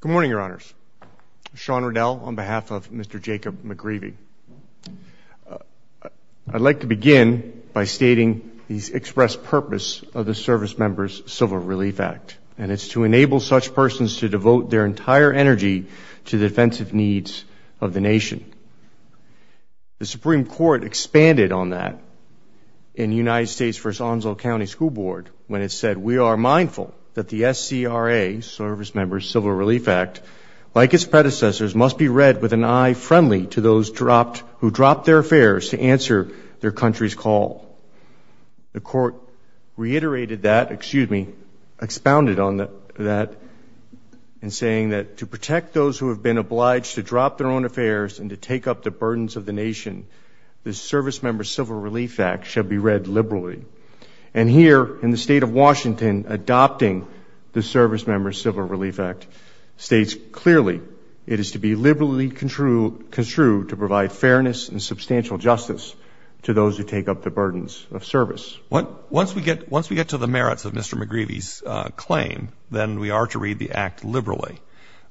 Good morning, your honors. Sean Riddell on behalf of Mr. Jacob McGreevey. I'd like to begin by stating the express purpose of the Servicemembers Civil Relief Act and it's to enable such persons to devote their entire energy to the defensive needs of the nation. The Supreme Court expanded on that in United States v. Onslaught County School Board when it said we are mindful that the SCRA, Servicemembers Civil Relief Act, like its predecessors, must be read with an eye friendly to those who dropped their affairs to answer their country's call. The court reiterated that, excuse me, expounded on that in saying that to protect those who have been obliged to drop their own affairs and to take up the burdens of the nation, the Servicemembers Civil Relief Act should be read liberally. And here, in the state of Washington, adopting the Servicemembers Civil Relief Act states clearly it is to be liberally construed to provide fairness and substantial justice to those who take up the burdens of service. Once we get to the merits of Mr. McGreevey's claim, then we are to read the act liberally.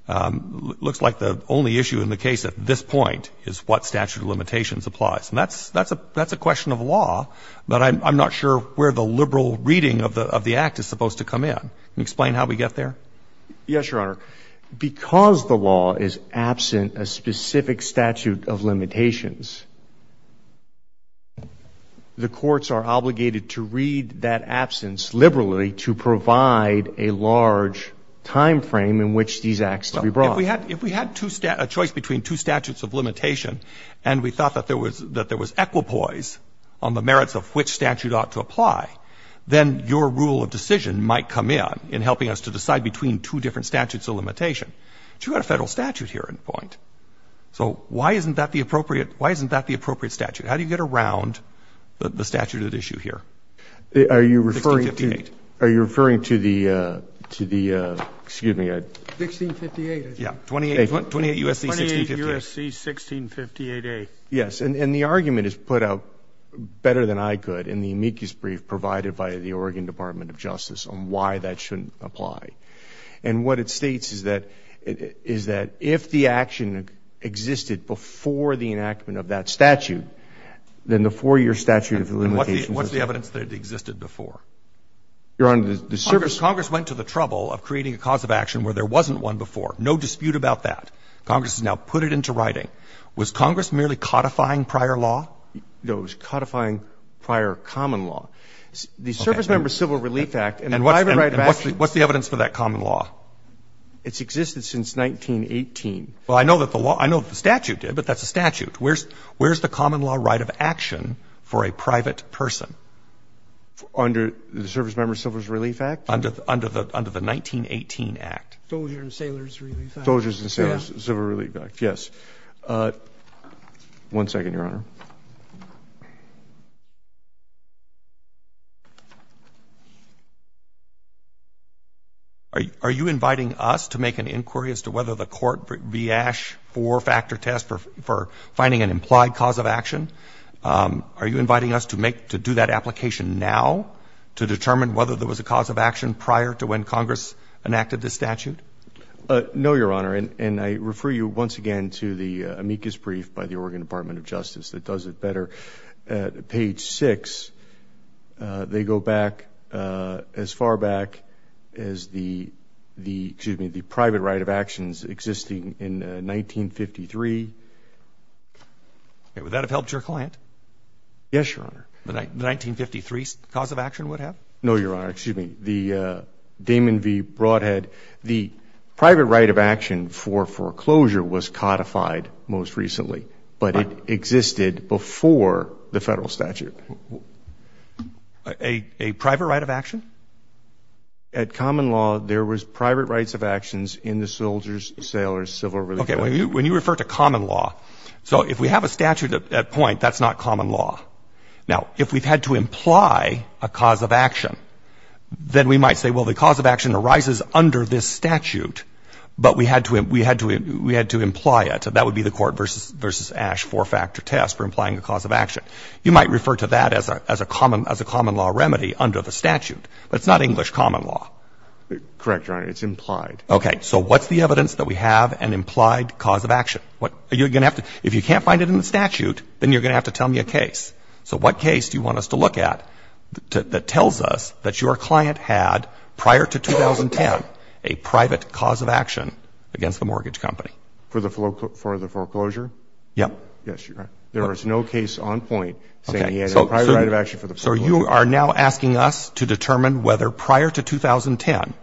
Looks like the only issue in the case at this point is what statute of limitations applies and that's a question of law, but I'm not sure where the liberal reading of the act is supposed to come in. Can you explain how we get there? Yes, Your Honor. Because the law is absent a specific statute of limitations, the courts are obligated to read that absence liberally to provide a large time frame in which these acts to be brought. If we had a choice between two statutes of limitation and we thought that there was equipoise on the merits of which statute ought to apply, then your rule of decision might come in in helping us to decide between two different statutes of limitation. But you've got a Federal statute here at this point. So why isn't that the appropriate statute? How do you get around the statute at issue here? 1658. Are you referring to the, excuse me, I don't know. 1658, I think. Yes. 28 U.S.C. 1658. 28 U.S.C. 1658A. Yes. And the argument is put out better than I could in the amicus brief provided by the Oregon Department of Justice on why that shouldn't apply. And what it states is that if the action existed before the enactment of that statute, then the four-year statute of limitations And what's the evidence that it existed before? Your Honor, the service Congress went to the trouble of creating a cause of action where there wasn't one before. No dispute about that. Congress has now put it into writing. Was Congress merely codifying prior law? No. It was codifying prior common law. The Service Member Civil Relief Act and the private right of action And what's the evidence for that common law? It's existed since 1918. Well, I know that the law — I know that the statute did, but that's a statute. Where's the common law right of action for a private person? Under the Service Member Civil Relief Act? Under the 1918 Act. Soldier and Sailor's Relief Act. Soldiers and Sailors' Civil Relief Act. Yes. One second, Your Honor. Are you inviting us to make an inquiry as to whether the court viash four-factor test for finding an implied cause of action? Are you inviting us to make — to do that application now to determine whether there was a cause of action prior to when Congress enacted this statute? No, Your Honor. And I refer you once again to the amicus brief by the Oregon Department of Justice that does it better. Page 6, they go back as far back as the — excuse me, the private right of actions existing in 1953. Would that have helped your client? Yes, Your Honor. The 1953 cause of action would have? No, Your Honor. Excuse me. The Damon v. Broadhead, the private right of action for foreclosure was codified most recently, but it existed before the federal statute. A private right of action? At common law, there was private rights of actions in the Soldiers, Sailors, Civil Relief Act. Okay. When you refer to common law — so if we have a statute at point, that's not of action, then we might say, well, the cause of action arises under this statute, but we had to — we had to — we had to imply it. That would be the Court v. Ash four-factor test for implying a cause of action. You might refer to that as a common — as a common law remedy under the statute, but it's not English common law. Correct, Your Honor. It's implied. Okay. So what's the evidence that we have an implied cause of action? Are you going to have to — if you can't find it in the statute, then you're going to have to tell me a case. So what case do you want us to look at that tells us that your client had, prior to 2010, a private cause of action against the mortgage company? For the foreclosure? Yeah. Yes, Your Honor. There was no case on point saying he had a private right of action for the foreclosure. So you are now asking us to determine whether, prior to 2010,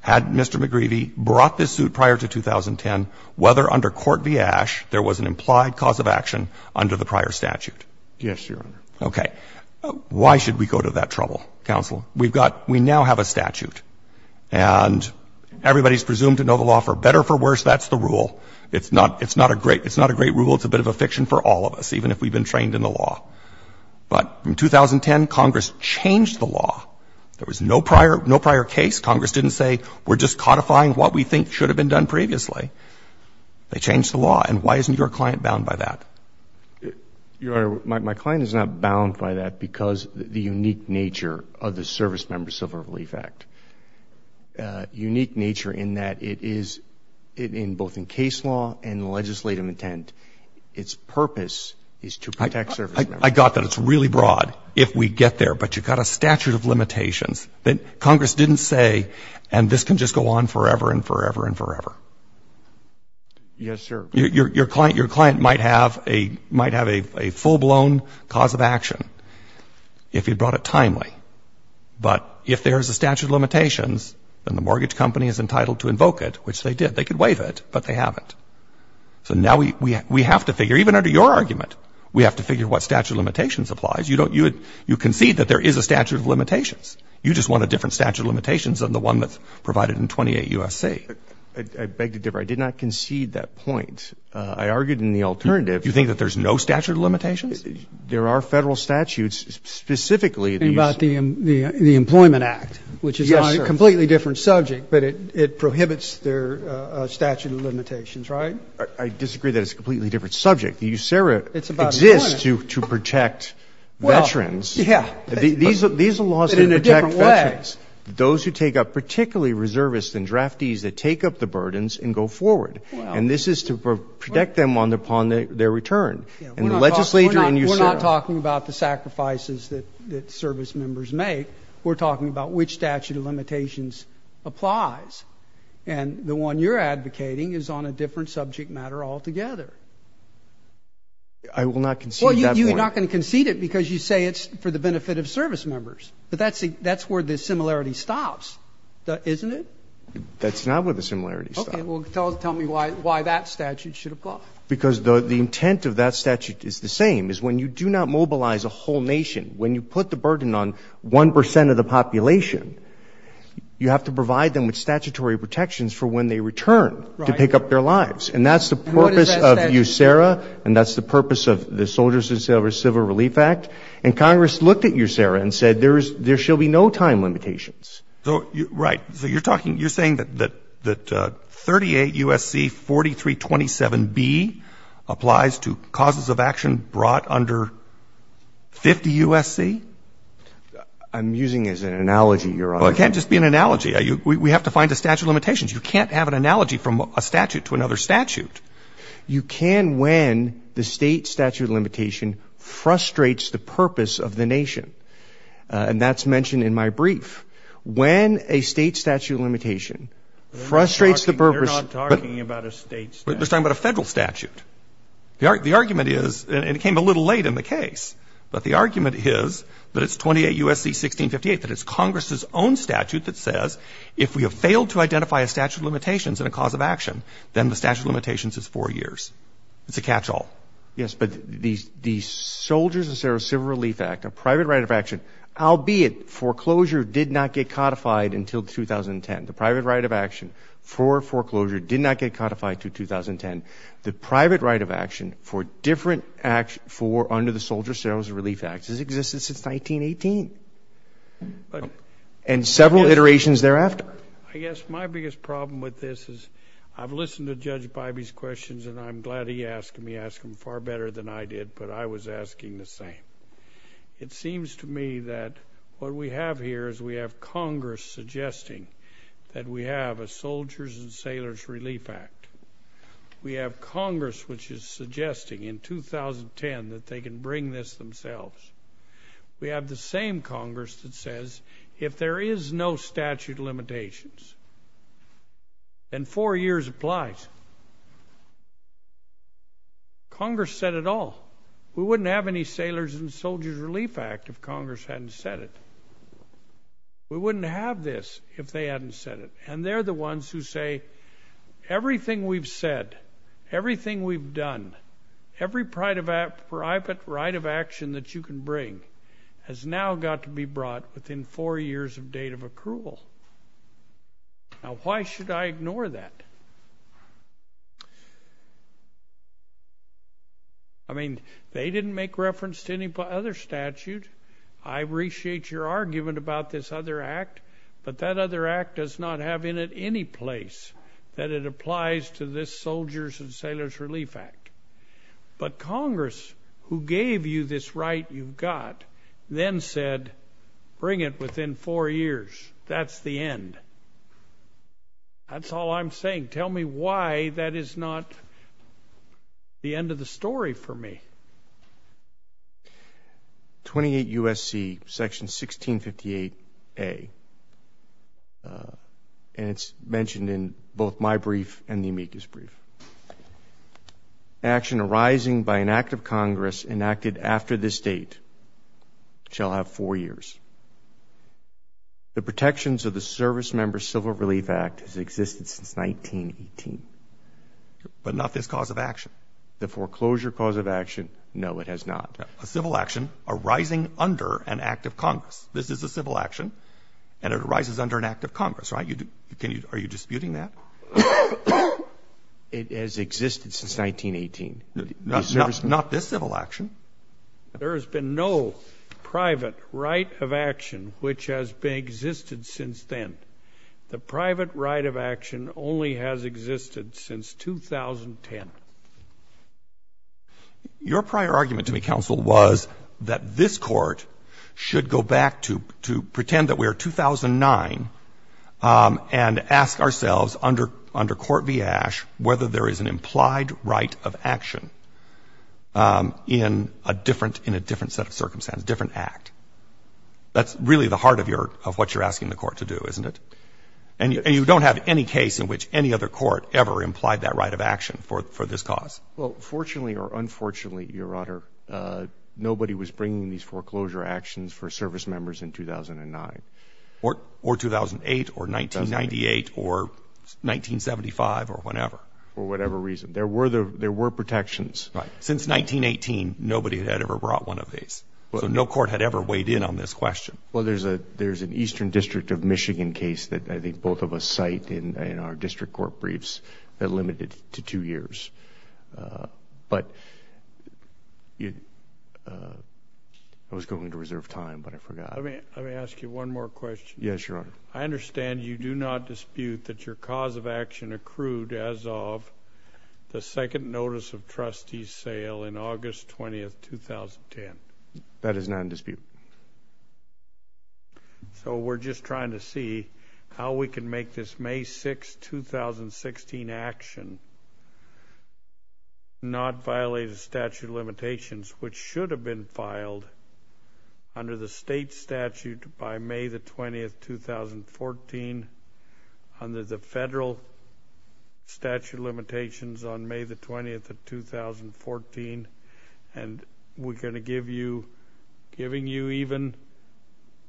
had Mr. McGreevey brought this suit prior to 2010, whether under Court v. Ash there was an implied cause of action under the prior statute? Yes, Your Honor. Okay. Why should we go to that trouble, counsel? We've got — we now have a statute, and everybody is presumed to know the law for better or for worse. That's the rule. It's not — it's not a great — it's not a great rule. It's a bit of a fiction for all of us, even if we've been trained in the law. But in 2010, Congress changed the law. There was no prior — no prior case. Congress didn't say, we're just codifying what we think should have been done previously. They changed the law. And why isn't your client bound by that? Your Honor, my client is not bound by that because of the unique nature of the Servicemember Civil Relief Act. Unique nature in that it is, both in case law and legislative intent, its purpose is to protect servicemembers. I got that. It's really broad, if we get there. But you've got a statute of limitations that Congress didn't say, and this can just go on forever and forever and forever. Yes, sir. Your client — your client might have a — might have a full-blown cause of action if he brought it timely. But if there is a statute of limitations, then the mortgage company is entitled to invoke it, which they did. They could waive it, but they haven't. So now we — we have to figure — even under your argument, we have to figure what statute of limitations applies. You don't — you concede that there is a statute of limitations. You just want a different statute of limitations than the one that's provided in 28 U.S.C. I beg to differ. I did not concede that point. I argued in the alternative. You think that there's no statute of limitations? There are Federal statutes. Specifically, these — And about the Employment Act, which is a completely different subject. Yes, sir. But it prohibits their statute of limitations, right? I disagree that it's a completely different subject. It's about employment. The USERRA exists to protect veterans. Well, yeah. These are laws that protect veterans. But in a different way. Those who take up — particularly reservists and draftees that take up the burdens and go forward. And this is to protect them upon their return. And the legislature in USERRA — We're not talking about the sacrifices that service members make. We're talking about which statute of limitations applies. And the one you're advocating is on a different subject matter altogether. I will not concede that point. Well, you're not going to concede it because you say it's for the benefit of service That similarity stops, isn't it? That's not where the similarity stops. Okay. Well, tell me why that statute should apply. Because the intent of that statute is the same, is when you do not mobilize a whole nation, when you put the burden on 1 percent of the population, you have to provide them with statutory protections for when they return to pick up their lives. And that's the purpose of USERRA. And what is that statute? And that's the purpose of the Soldiers and Sailors Civil Relief Act. And Congress looked at USERRA and said there shall be no time limitations. Right. So you're talking — you're saying that 38 U.S.C. 4327B applies to causes of action brought under 50 U.S.C.? I'm using it as an analogy, Your Honor. Well, it can't just be an analogy. We have to find the statute of limitations. You can't have an analogy from a statute to another statute. You can when the state statute of limitation frustrates the purpose of the nation. And that's mentioned in my brief. When a state statute of limitation frustrates the purpose — They're not talking about a state statute. They're talking about a federal statute. The argument is — and it came a little late in the case, but the argument is that it's 28 U.S.C. 1658, that it's Congress's own statute that says if we have failed to identify a statute of limitations in a cause of action, then the statute of limitations is four years. It's a catch-all. Yes, but the Soldiers and Services of Relief Act, a private right of action, albeit foreclosure did not get codified until 2010. The private right of action for foreclosure did not get codified until 2010. The private right of action for different — under the Soldiers, Services, and Relief Act, has existed since 1918 and several iterations thereafter. I guess my biggest problem with this is I've listened to Judge Bybee's questions, and I'm glad he asked them. He asked them far better than I did, but I was asking the same. It seems to me that what we have here is we have Congress suggesting that we have a Soldiers and Sailors Relief Act. We have Congress which is suggesting in 2010 that they can bring this themselves. We have the same Congress that says if there is no statute of limitations, then four years applies. Congress said it all. We wouldn't have any Sailors and Soldiers Relief Act if Congress hadn't said it. We wouldn't have this if they hadn't said it, and they're the ones who say everything we've said, everything we've done, every private right of action that you can bring has now got to be brought within four years of date of accrual. Now, why should I ignore that? I mean, they didn't make reference to any other statute. I appreciate your argument about this other act, but that other act does not have in it any place that it applies to this Soldiers and Sailors Relief Act. But Congress, who gave you this right you've got, then said bring it within four years. That's the end. That's all I'm saying. Tell me why that is not the end of the story for me. 28 U.S.C. Section 1658A, and it's mentioned in both my brief and the amicus brief. Action arising by an act of Congress enacted after this date shall have four years. The protections of the Servicemember Civil Relief Act has existed since 1918. But not this cause of action. The foreclosure cause of action, no, it has not. A civil action arising under an act of Congress. This is a civil action, and it arises under an act of Congress, right? Are you disputing that? It has existed since 1918. Not this civil action. There has been no private right of action which has existed since then. The private right of action only has existed since 2010. Your prior argument to me, counsel, was that this Court should go back to pretend that we are 2009 and ask ourselves under Court v. Ash whether there is an implied right of action in a different set of circumstances, different act. That's really the heart of what you're asking the Court to do, isn't it? And you don't have any case in which any other court ever implied that right of action for this cause. Well, fortunately or unfortunately, Your Honor, nobody was bringing these foreclosure actions for Servicemembers in 2009. Or 2008 or 1998 or 1975 or whenever. For whatever reason. There were protections. Right. Since 1918, nobody had ever brought one of these. So no court had ever weighed in on this question. Well, there's an Eastern District of Michigan case that I think both of us cite in our district court briefs that limited to two years. But I was going to reserve time, but I forgot. Let me ask you one more question. Yes, Your Honor. I understand you do not dispute that your cause of action accrued as of the second That is not in dispute. So we're just trying to see how we can make this May 6, 2016 action not violate a statute of limitations, which should have been filed under the state statute by May 20, 2014, under the federal statute of limitations on May 20, 2014. And we're going to give you, giving you even,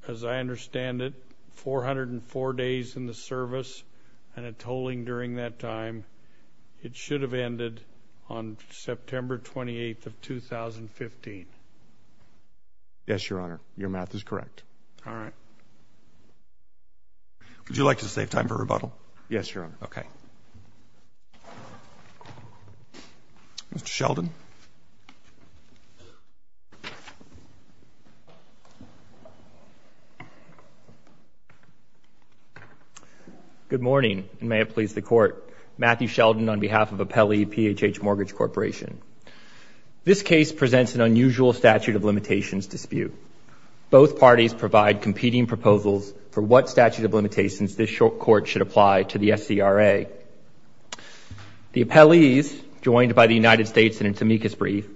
as I understand it, 404 days in the service and a tolling during that time. It should have ended on September 28, 2015. Yes, Your Honor. Your math is correct. All right. Would you like to save time for rebuttal? Yes, Your Honor. Okay. Thank you. Mr. Sheldon. Good morning, and may it please the Court. Matthew Sheldon on behalf of Appelli PHH Mortgage Corporation. This case presents an unusual statute of limitations dispute. Both parties provide competing proposals for what statute of limitations this court should apply to the SCRA. The appellees, joined by the United States in its amicus brief,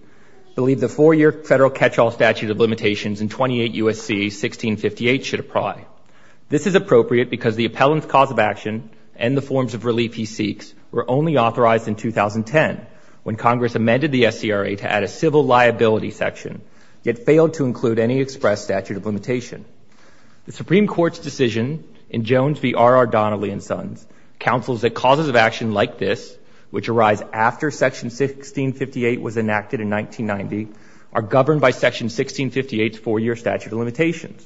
believe the four-year federal catch-all statute of limitations in 28 U.S.C. 1658 should apply. This is appropriate because the appellant's cause of action and the forms of relief he seeks were only authorized in 2010, when Congress amended the SCRA to add a civil liability The Supreme Court's decision in Jones v. R. R. Donnelly & Sons counsels that causes of action like this, which arise after Section 1658 was enacted in 1990, are governed by Section 1658's four-year statute of limitations.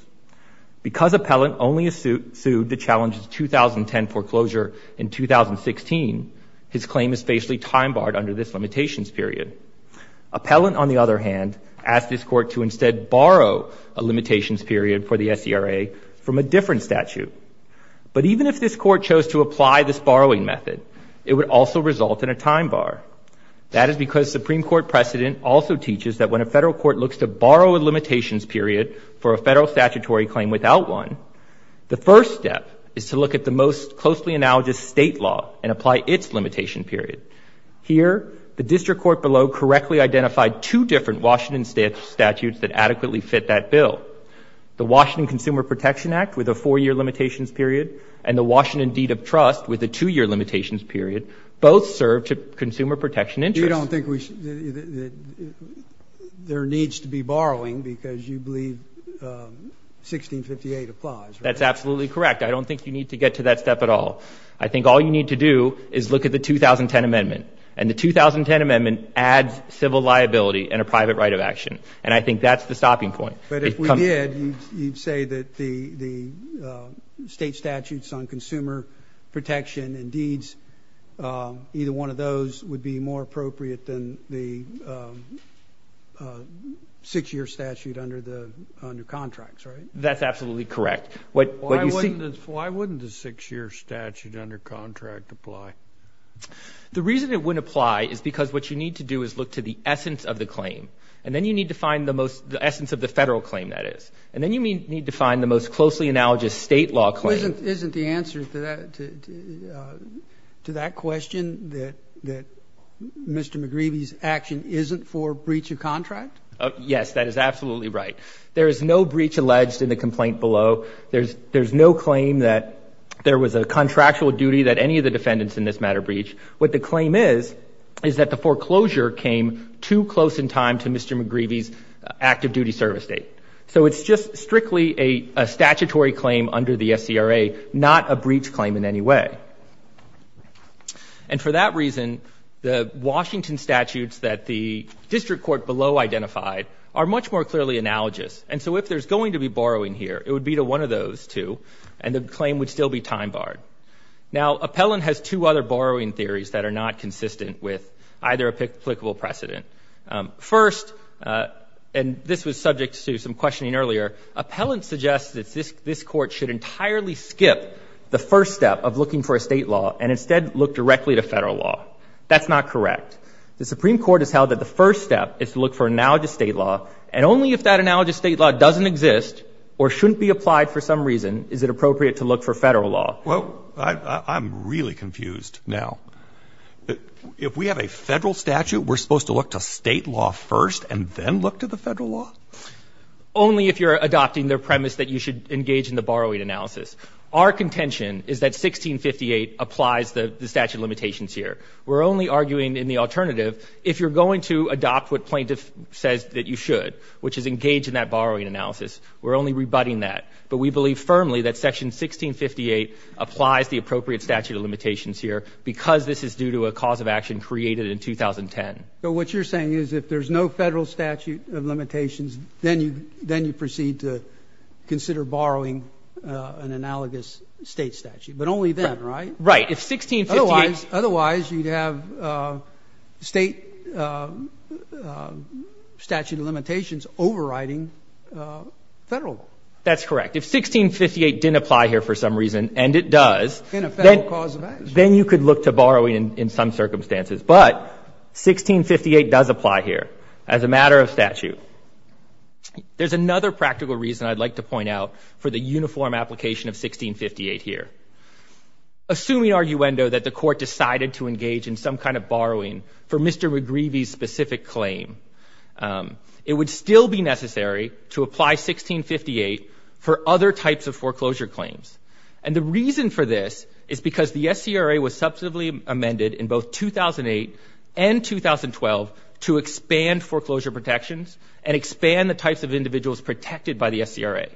Because appellant only is sued to challenge the 2010 foreclosure in 2016, his claim is facially time-barred under this limitations period. Appellant, on the other hand, asks this court to instead borrow a limitations period for the SCRA from a different statute. But even if this court chose to apply this borrowing method, it would also result in a time-bar. That is because Supreme Court precedent also teaches that when a federal court looks to borrow a limitations period for a federal statutory claim without one, the first step is to look at the most closely analogous state law and apply its limitation period. Here, the district court below correctly identified two different Washington statutes that adequately fit that bill. The Washington Consumer Protection Act with a four-year limitations period and the Washington Deed of Trust with a two-year limitations period both serve to consumer protection interests. You don't think there needs to be borrowing because you believe 1658 applies, right? That's absolutely correct. I don't think you need to get to that step at all. I think all you need to do is look at the 2010 amendment. And the 2010 amendment adds civil liability and a private right of action. And I think that's the stopping point. But if we did, you'd say that the state statutes on consumer protection and deeds, either one of those would be more appropriate than the six-year statute under contracts, right? That's absolutely correct. Why wouldn't a six-year statute under contract apply? The reason it wouldn't apply is because what you need to do is look to the essence of the claim. And then you need to find the most the essence of the Federal claim, that is. And then you need to find the most closely analogous state law claim. Isn't the answer to that question that Mr. McGreevy's action isn't for breach of contract? Yes, that is absolutely right. There is no breach alleged in the complaint below. There's no claim that there was a contractual duty that any of the defendants in this matter breached. What the claim is is that the foreclosure came too close in time to Mr. McGreevy's active duty service date. So it's just strictly a statutory claim under the SCRA, not a breach claim in any way. And for that reason, the Washington statutes that the district court below identified are much more clearly analogous. And so if there's going to be borrowing here, it would be to one of those two, and the claim would still be time-barred. Now, Appellant has two other borrowing theories that are not consistent with either applicable precedent. First, and this was subject to some questioning earlier, Appellant suggests that this Court should entirely skip the first step of looking for a state law and instead look directly to Federal law. That's not correct. The Supreme Court has held that the first step is to look for analogous state law, and only if that analogous state law doesn't exist or shouldn't be applied for some reason is it appropriate to look for Federal law. Well, I'm really confused now. If we have a Federal statute, we're supposed to look to State law first and then look to the Federal law? Only if you're adopting the premise that you should engage in the borrowing analysis. Our contention is that 1658 applies the statute of limitations here. We're only arguing in the alternative if you're going to adopt what Plaintiff says that you should, which is engage in that borrowing analysis. We're only rebutting that. But we believe firmly that Section 1658 applies the appropriate statute of limitations here because this is due to a cause of action created in 2010. But what you're saying is if there's no Federal statute of limitations, then you proceed to consider borrowing an analogous State statute. But only then, right? Right. Otherwise, you'd have State statute of limitations overriding Federal law. That's correct. If 1658 didn't apply here for some reason, and it does, then you could look to borrowing in some circumstances. But 1658 does apply here as a matter of statute. There's another practical reason I'd like to point out for the uniform application of 1658 here. Assuming, arguendo, that the Court decided to engage in some kind of borrowing for Mr. McGreevey's specific claim, it would still be necessary to apply 1658 for other types of foreclosure claims. And the reason for this is because the SCRA was substantively amended in both 2008 and 2012 to expand foreclosure protections and expand the types of individuals protected by the SCRA.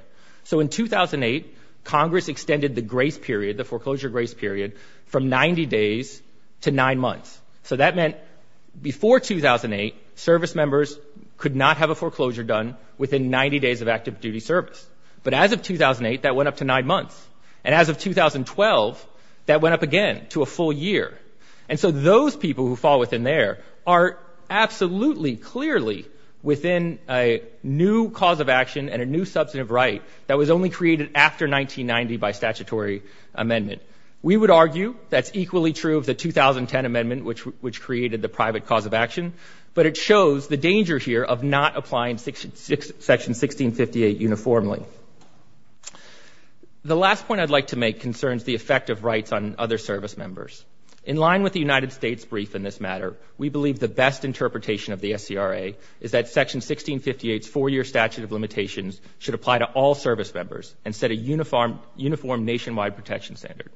So in 2008, Congress extended the grace period, the foreclosure grace period, from 90 days to nine months. So that meant before 2008, service members could not have a foreclosure done within 90 days of active duty service. But as of 2008, that went up to nine months. And as of 2012, that went up again to a full year. And so those people who fall within there are absolutely clearly within a new cause of action and a new substantive right that was only created after 1990 by statutory amendment. We would argue that's equally true of the 2010 amendment, which created the private cause of action. But it shows the danger here of not applying Section 1658 uniformly. The last point I'd like to make concerns the effect of rights on other service members. In line with the United States' brief in this matter, we believe the best interpretation of the SCRA is that Section 1658's four-year statute of limitations should apply to all service members and set a uniform nationwide protection standard.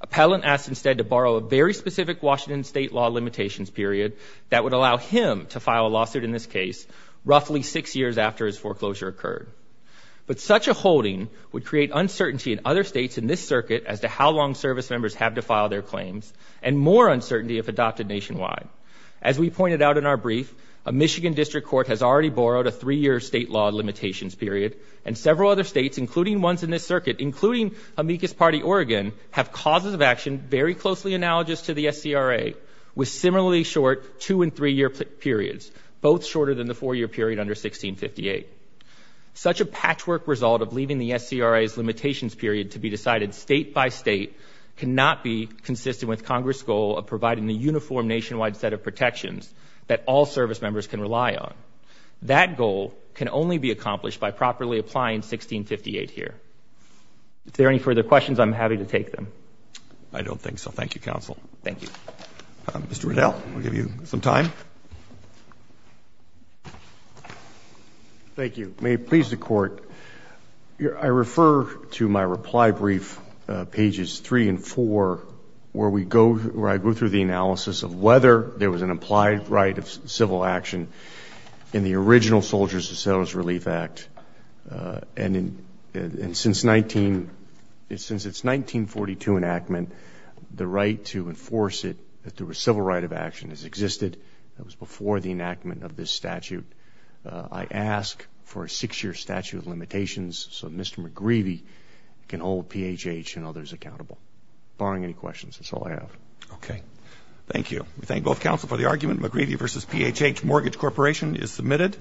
Appellant asked instead to borrow a very specific Washington state law limitations period that would allow him to file a lawsuit in this case roughly six years after his foreclosure occurred. But such a holding would create uncertainty in other states in this circuit as to how long service members have to file their claims and more uncertainty if adopted nationwide. As we pointed out in our brief, a Michigan district court has already borrowed a three-year state law limitations period and several other states, including ones in this circuit, including Amicus Party, Oregon, have causes of action very closely analogous to the SCRA with similarly short two- and three-year periods, both shorter than the four-year period under 1658. Such a patchwork result of leaving the SCRA's limitations period to be decided state by state cannot be consistent with Congress' goal of providing the uniform nationwide set of protections that all service members can rely on. That goal can only be accomplished by properly applying 1658 here. If there are any further questions, I'm happy to take them. I don't think so. Thank you, counsel. Thank you. Mr. Riddell, we'll give you some time. Thank you. May it please the Court, I refer to my reply brief, pages three and four, where I go through the analysis of whether there was an implied right of civil action in the original Soldiers and Settlers Relief Act. And since its 1942 enactment, the right to enforce it through a civil right of action has existed. That was before the enactment of this statute. I ask for a six-year statute of limitations so Mr. McGreevy can hold PHH and others accountable. Barring any questions, that's all I have. Okay. Thank you. We thank both counsel for the argument. McGreevy v. PHH Mortgage Corporation is submitted.